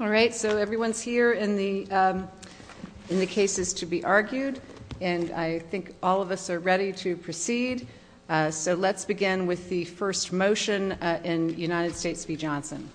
All right so everyone's here in the in the cases to be argued and I think all of us are ready to proceed so let's begin with the first motion in United States v. Johnson.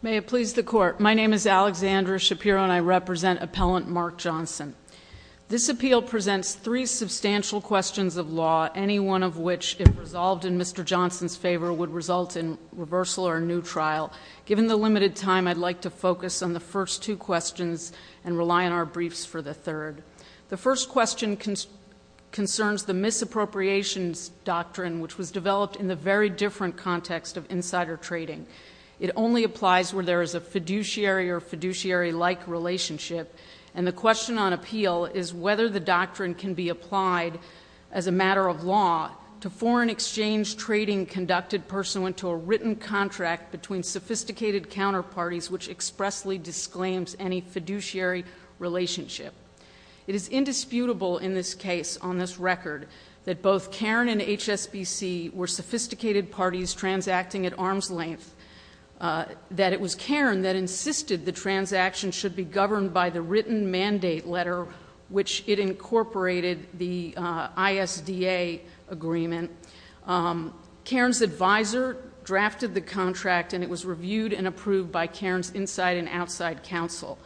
May it please the court my name is Alexandra Shapiro and I represent appellant Mark Johnson. This appeal presents three substantial questions of law any one of which if resolved in Mr. Johnson's favor would result in reversal or a new trial. Given the limited time I'd like to focus on the first two questions and rely on our briefs for the third. The first question concerns the misappropriations doctrine which was developed in the very different context of insider trading. It only applies where there is a fiduciary or fiduciary like relationship and the question on appeal is whether the doctrine can be applied as a matter of law to foreign exchange trading conducted pursuant to a written contract between sophisticated counterparties which expressly disclaims any fiduciary relationship. It is indisputable in this case on this record that both Cairn and HSBC were sophisticated parties transacting at arm's length that it was Cairn that insisted the transaction should be governed by the written mandate letter which it incorporated the ISDA agreement. Cairn's advisor drafted the contract and it was reviewed and approved by Cairn's inside and outside counsel.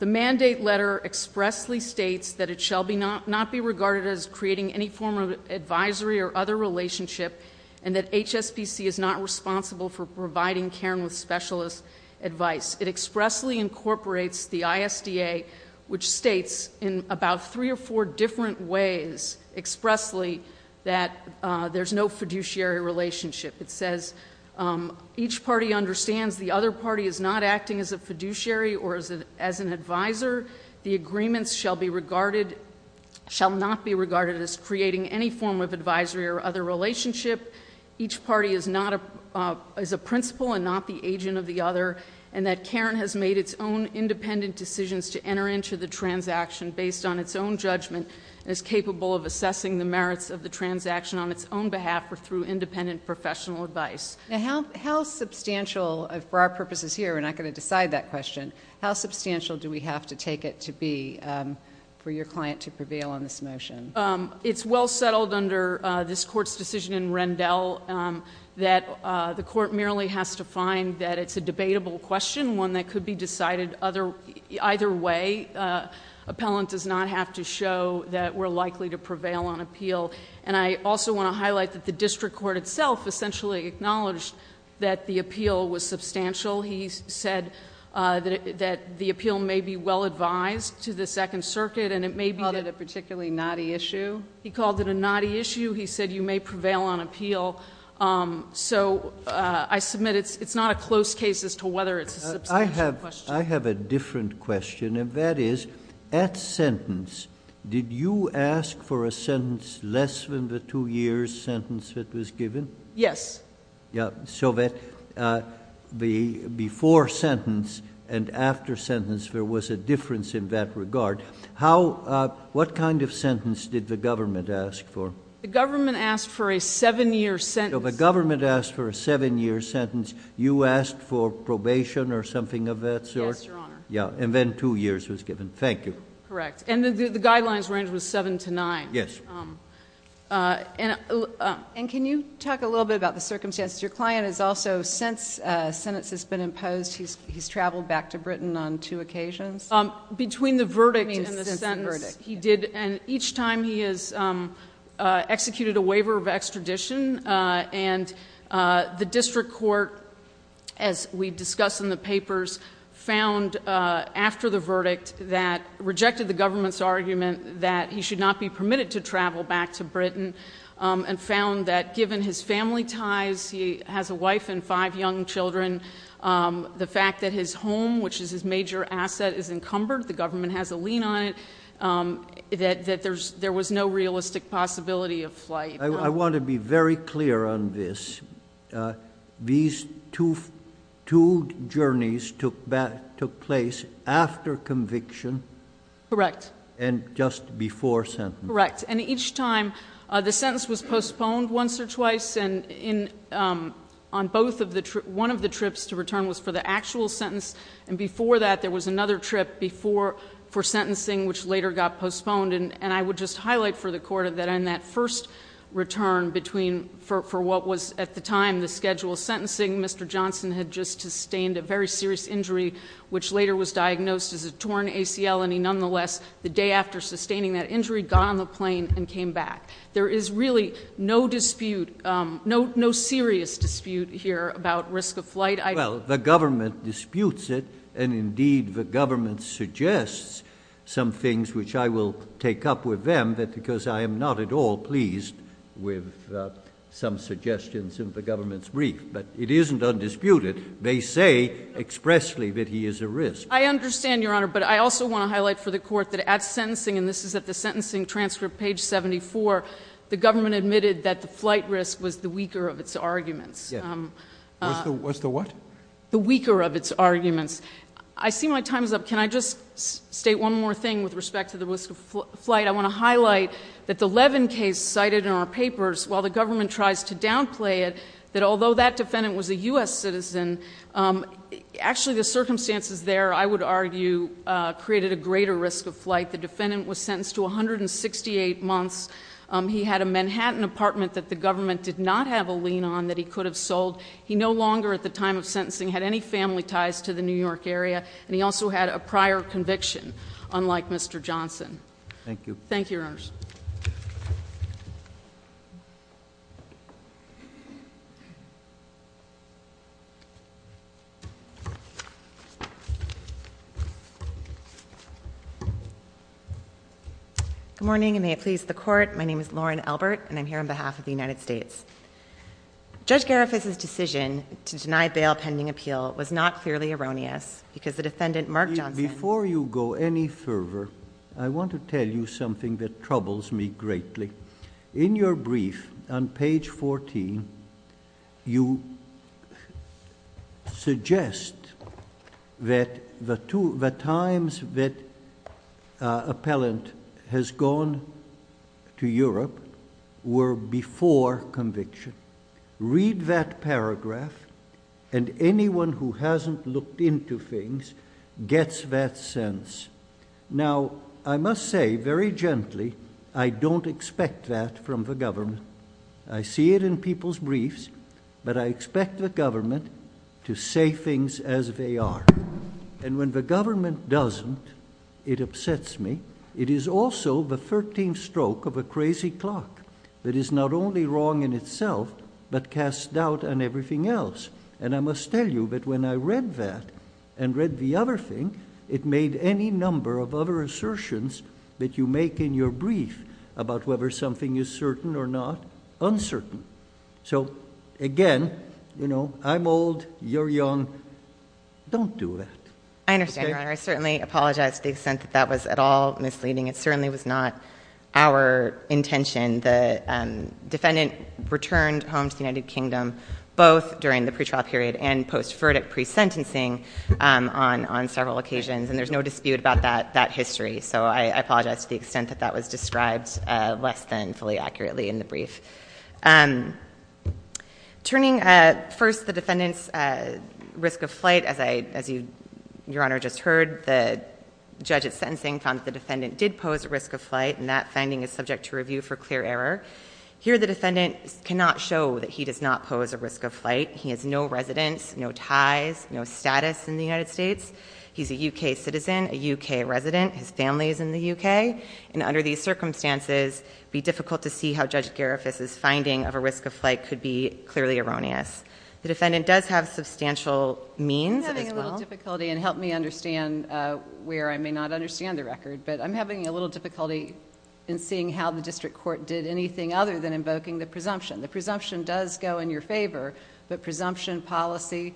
The mandate letter expressly states that it shall be not not be regarded as creating any form of advisory or other relationship and that HSBC is not responsible for providing Cairn with specialist advice. It states in about three or four different ways expressly that there's no fiduciary relationship. It says each party understands the other party is not acting as a fiduciary or as an advisor. The agreements shall be regarded shall not be regarded as creating any form of advisory or other relationship. Each party is a principal and not the agent of the other and that Cairn has made its own independent decisions to enter into the transaction based on its own judgment as capable of assessing the merits of the transaction on its own behalf or through independent professional advice. Now how substantial for our purposes here, we're not going to decide that question, how substantial do we have to take it to be for your client to prevail on this motion? It's well settled under this court's decision in Rendell that the court merely has to find that it's a debatable question, one that could be decided either way. Appellant does not have to show that we're likely to prevail on appeal. And I also want to highlight that the district court itself essentially acknowledged that the appeal was substantial. He said that the appeal may be well advised to the Second Circuit and it may be... He called it a particularly knotty issue? He called it a knotty issue. He said you may prevail on appeal. So I submit it's not a close case as to whether it's a substantial question. I have a different question and that is, at sentence, did you ask for a sentence less than the two years sentence that was given? Yes. So that before sentence and after sentence there was a difference in that regard. What kind of sentence did the government ask for? The government asked for a seven year sentence. So the government asked for a seven year sentence. You asked for probation or something of that sort? Yes, Your Honor. Yeah. And then two years was given. Thank you. Correct. And the guidelines range was seven to nine. Yes. And can you talk a little bit about the circumstances? Your client has also, since a sentence has been imposed, he's traveled back to Britain on two occasions? Between the verdict and the sentence, he did. And each time he has executed a crime. And the district court, as we discuss in the papers, found after the verdict that, rejected the government's argument that he should not be permitted to travel back to Britain, and found that given his family ties, he has a wife and five young children, the fact that his home, which is his major asset, is encumbered, the government has a lien on it, that there was no realistic possibility of flight. I want to be very clear on this. These two journeys took place after conviction? Correct. And just before sentence? Correct. And each time, the sentence was postponed once or twice, and on both of the trips, one of the trips to return was for the actual sentence, and before that, there was another trip for sentencing, which later got returned for what was, at the time, the schedule of sentencing. Mr. Johnson had just sustained a very serious injury, which later was diagnosed as a torn ACL, and he nonetheless, the day after sustaining that injury, got on the plane and came back. There is really no dispute, no serious dispute here about risk of flight. Well, the government disputes it, and indeed, the government suggests some things which I will take up with them, because I am not at all pleased with some suggestions in the government's brief. But it isn't undisputed. They say expressly that he is a risk. I understand, Your Honor, but I also want to highlight for the Court that at sentencing, and this is at the sentencing transcript, page 74, the government admitted that the flight risk was the weaker of its arguments. Yes. Was the what? The weaker of its arguments. I see my time is up. Can I just state one more thing with respect to the risk of flight? I want to highlight that the Levin case cited in our papers, while the government tries to downplay it, that although that defendant was a U.S. citizen, actually the circumstances there, I would argue, created a greater risk of flight. The defendant was sentenced to 168 months. He had a Manhattan apartment that the government did not have a lien on that he could have sold. He no longer, at the time of sentencing, had any family ties to the New York area, and he also had a prior conviction, unlike Mr. Johnson. Thank you. Thank you, Your Honors. Good morning, and may it please the Court. My name is Lauren Albert, and I'm here on behalf of the United States. Judge Garifuz's decision to deny bail pending appeal was not clearly erroneous, because the defendant, Mark Johnson... Before you go any further, I want to tell you something that troubles me greatly. In your brief, on page 14, you suggest that the times that appellant has gone to Europe were before conviction. Read that paragraph, and anyone who hasn't looked into things gets that sense. Now, I must say very gently, I don't expect that from the government. I see it in people's briefs, but I expect the government to say things as they are. And when the government doesn't, it upsets me. It is also the 13th stroke of a crazy clock that is not only wrong in itself, but casts doubt on everything else. And I must tell you that when I read that, and read the other thing, it made any number of other assertions that you make in your brief about whether something is certain or not uncertain. So again, I'm old, you're young, don't do that. I understand, Your Honor. I certainly apologize to the extent that that was at all misleading. It certainly was not our intention. The defendant returned home to the United Kingdom both during the pretrial period and post-verdict pre-sentencing on several occasions, and there's no dispute about that history. So I apologize to the extent that that was described less than fully accurately in the brief. Turning first the defendant's risk of flight, as Your Honor just heard, the judge at sentencing found that the defendant did pose a risk of flight, and that finding is subject to review for clear error. Here the defendant cannot show that he does not pose a risk of flight. He has no residence, no ties, no status in the United States. He's a UK citizen, a UK resident. His family is in the UK, and under these circumstances, it would be difficult to see how Judge Garifas's finding of a risk of flight could be clearly erroneous. The defendant does have substantial means as well. I'm having a little difficulty, and help me understand where I may not understand the record, but I'm having a little difficulty in seeing how the district court did anything other than invoking the presumption. The presumption does go in your favor, but presumption policy,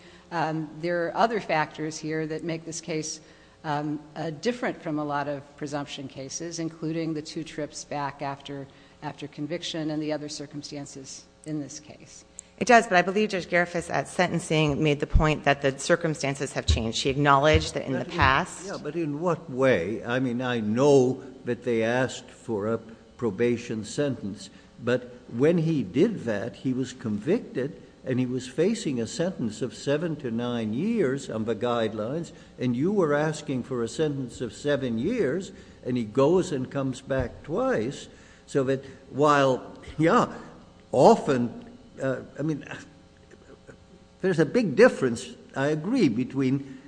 there are other factors here that make this case different from a lot of presumption cases, including the two trips back after conviction and the other circumstances in this case. It does, but I believe Judge Garifas at sentencing made the point that the sentence did not change. She acknowledged that in the past- Yeah, but in what way? I mean, I know that they asked for a probation sentence, but when he did that, he was convicted, and he was facing a sentence of seven to nine years under guidelines, and you were asking for a sentence of seven years, and he goes and comes back twice, so that while, yeah, often, I mean, there's a big difference, I agree, between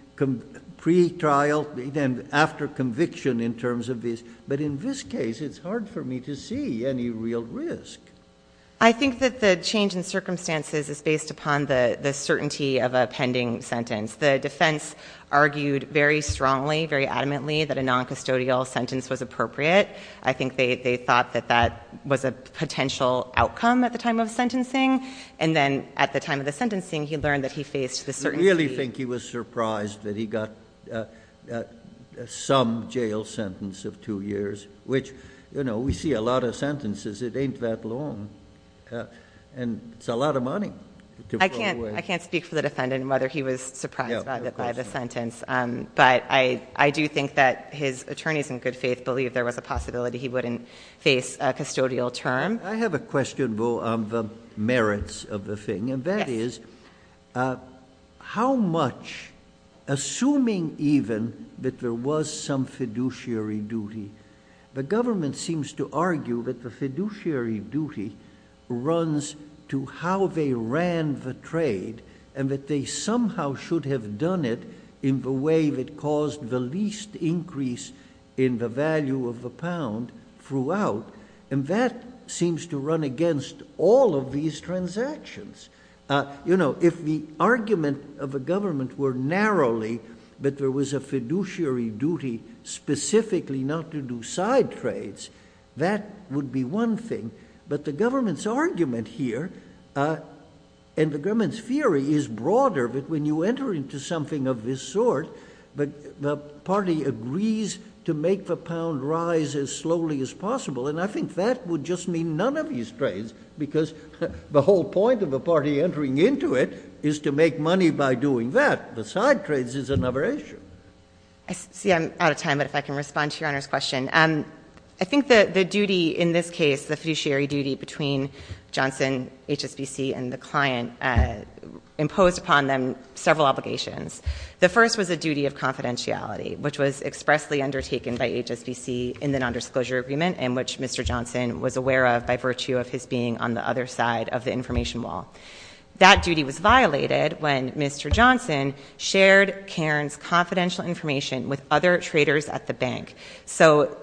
pre-trial and after conviction in terms of this, but in this case, it's hard for me to see any real risk. I think that the change in circumstances is based upon the certainty of a pending sentence. The defense argued very strongly, very adamantly, that a non-custodial sentence was appropriate. I think they thought that that was a potential outcome at the time of sentencing, and then at the time of the sentencing, he learned that he faced the certainty- I really think he was surprised that he got some jail sentence of two years, which, you know, we see a lot of sentences. It ain't that long, and it's a lot of money to throw away. I can't speak for the defendant and whether he was surprised by the sentence, but I do think that his attorneys in good faith believed there was a custodial term. I have a question, Bo, on the merits of the thing, and that is, how much, assuming even that there was some fiduciary duty, the government seems to argue that the fiduciary duty runs to how they ran the trade, and that they somehow should have done it in the way that caused the least increase in the penalty. And that seems to run against all of these transactions. You know, if the argument of the government were narrowly that there was a fiduciary duty specifically not to do side trades, that would be one thing, but the government's argument here, and the government's theory, is broader, that when you enter into something of this sort, the party agrees to make the money by doing that. That would just mean none of these trades, because the whole point of a party entering into it is to make money by doing that. The side trades is another issue. See, I'm out of time, but if I can respond to Your Honor's question. I think the duty in this case, the fiduciary duty between Johnson, HSBC, and the client imposed upon them several obligations. The first was a duty of confidentiality, which was expressly undertaken by HSBC in the nondisclosure agreement, and which Mr. Johnson was aware of by virtue of his being on the other side of the information wall. That duty was violated when Mr. Johnson shared Cairn's confidential information with other traders at the bank. So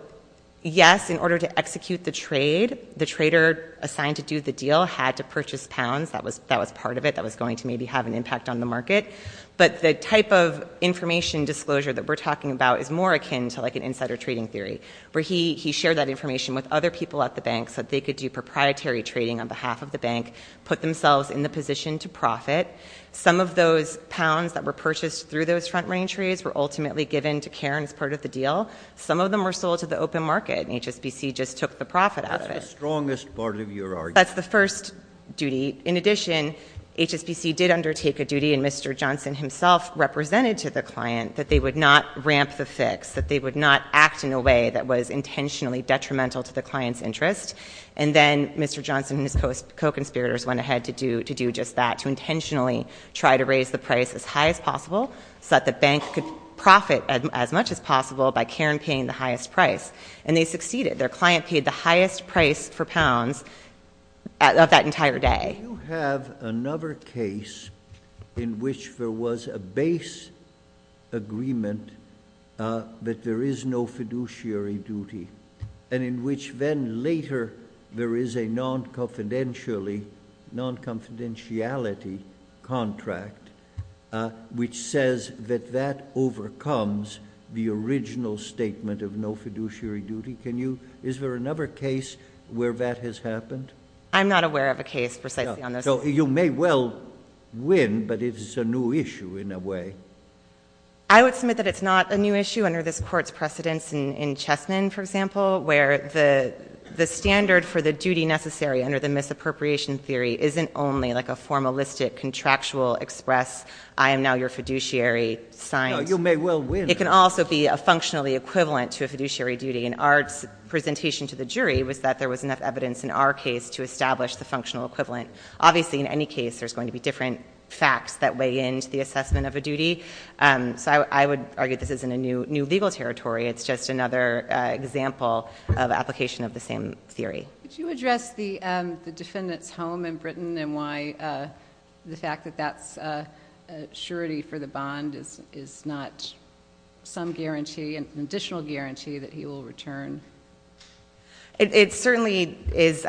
yes, in order to execute the trade, the trader assigned to do the deal had to purchase pounds. That was part of it. That was going to maybe have an impact on the market. But the type of information disclosure that we're talking about is more akin to insider trading theory, where he shared that information with other people at the bank so that they could do proprietary trading on behalf of the bank, put themselves in the position to profit. Some of those pounds that were purchased through those front range trades were ultimately given to Cairn as part of the deal. Some of them were sold to the open market, and HSBC just took the profit out of it. That's the strongest part of your argument. That's the first duty. In addition, HSBC did undertake a duty, and Mr. Johnson himself represented to the client, that they would not ramp the fix, that they would not act in a way that was intentionally detrimental to the client's interest. And then Mr. Johnson and his co-conspirators went ahead to do just that, to intentionally try to raise the price as high as possible so that the bank could profit as much as possible by Cairn paying the highest price. And they succeeded. Their client paid the highest price for pounds of that entire day. Can you...... can you have another case in which there was a base agreement, but there is no fiduciary duty, and in which then later there is a non-confidentiality contract which says that that overcomes the original statement of no fiduciary duty. Is there another case where that has happened? I'm not aware of a case precisely on this. So you may well win, but it is a new issue in a way. I would submit that it's not a new issue under this Court's precedence in Chessmen, for example, where the standard for the duty necessary under the misappropriation theory isn't only like a formalistic contractual express, I am now your fiduciary, signed. No, you may well win. It can also be a functionally equivalent to a fiduciary duty. And our presentation to the jury was that there was enough evidence in our case to establish the functional equivalent. Obviously, in any case, there's going to be different facts that weigh in to the assessment of a duty. So I would argue this isn't a new legal territory. It's just another example of application of the same theory. Could you address the defendant's home in Britain and why the fact that that's a surety for the bond is not some guarantee, an additional guarantee that he will return? It certainly is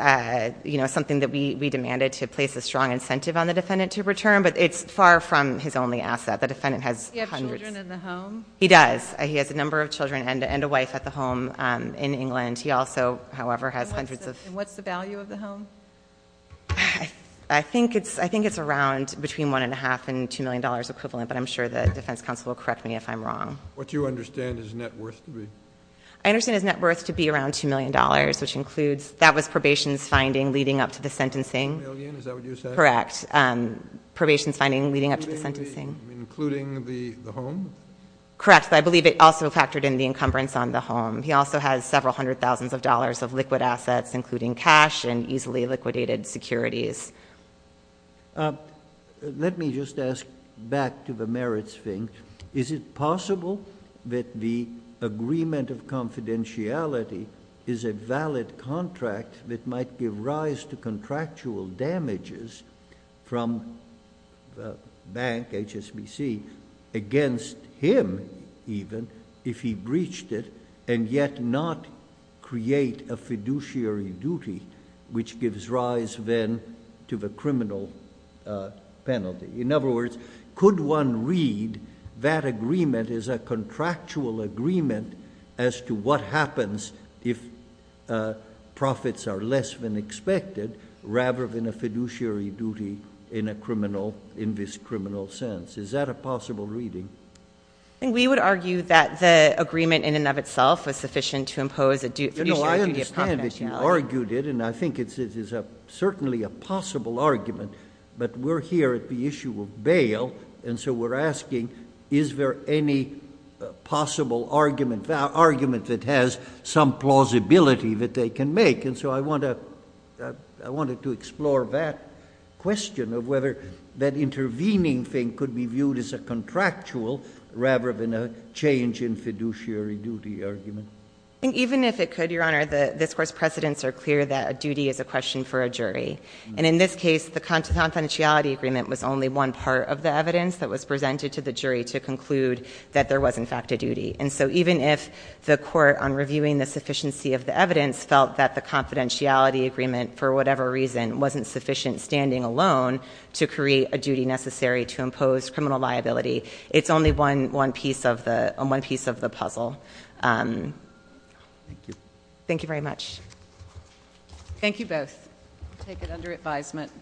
something that we demanded to place a strong incentive on the defendant to return, but it's far from his only asset. The defendant has hundreds... Does he have children in the home? He does. He has a number of children and a wife at the home in England. He also, however, has hundreds of... What's the value of the home? I think it's around between one and a half and two million dollars equivalent, but I'm sure the defense counsel will correct me if I'm wrong. What do you understand his net worth to be? I understand his net worth to be around two million dollars, which includes... That was probation's finding leading up to the sentencing. Two million, is that what you said? Correct. Probation's finding leading up to the sentencing. Including the home? Correct. But I believe it also factored in the encumbrance on the home. He also has several hundred thousands of dollars of liquid assets, including cash and easily liquidated securities. Let me just ask back to the merits thing. Is it possible that the agreement of confidentiality is a valid contract that might give rise to contractual damages from the bank, HSBC, against him even, if he breached it, and yet not create a fiduciary duty, which gives rise then to the criminal penalty? In other words, could one read that agreement as a contractual agreement as to what happens if profits are less than expected, rather than a fiduciary duty in this criminal sense? Is that a possible reading? We would argue that the agreement in and of itself was sufficient to impose a fiduciary duty of confidentiality. I understand that you argued it, and I think it is certainly a possible argument, but we're here at the issue of bail, and so we're asking, is there any possible argument that has some plausibility that they can make? And so I wanted to explore that question of whether that intervening thing could be viewed as a contractual, rather than a change in fiduciary duty argument. Even if it could, Your Honor, the discourse precedents are clear that a duty is a question for a jury. And in this case, the confidentiality agreement was only one part of the evidence that was presented to the jury to conclude that there was, in fact, a duty. And so even if the court, on reviewing the sufficiency of the evidence, felt that the confidentiality agreement, for whatever reason, wasn't sufficient standing alone to create a duty necessary to impose criminal liability, it's only one piece of the puzzle. Thank you. Thank you very much. Thank you both. Thank you. Thank you. Thank you.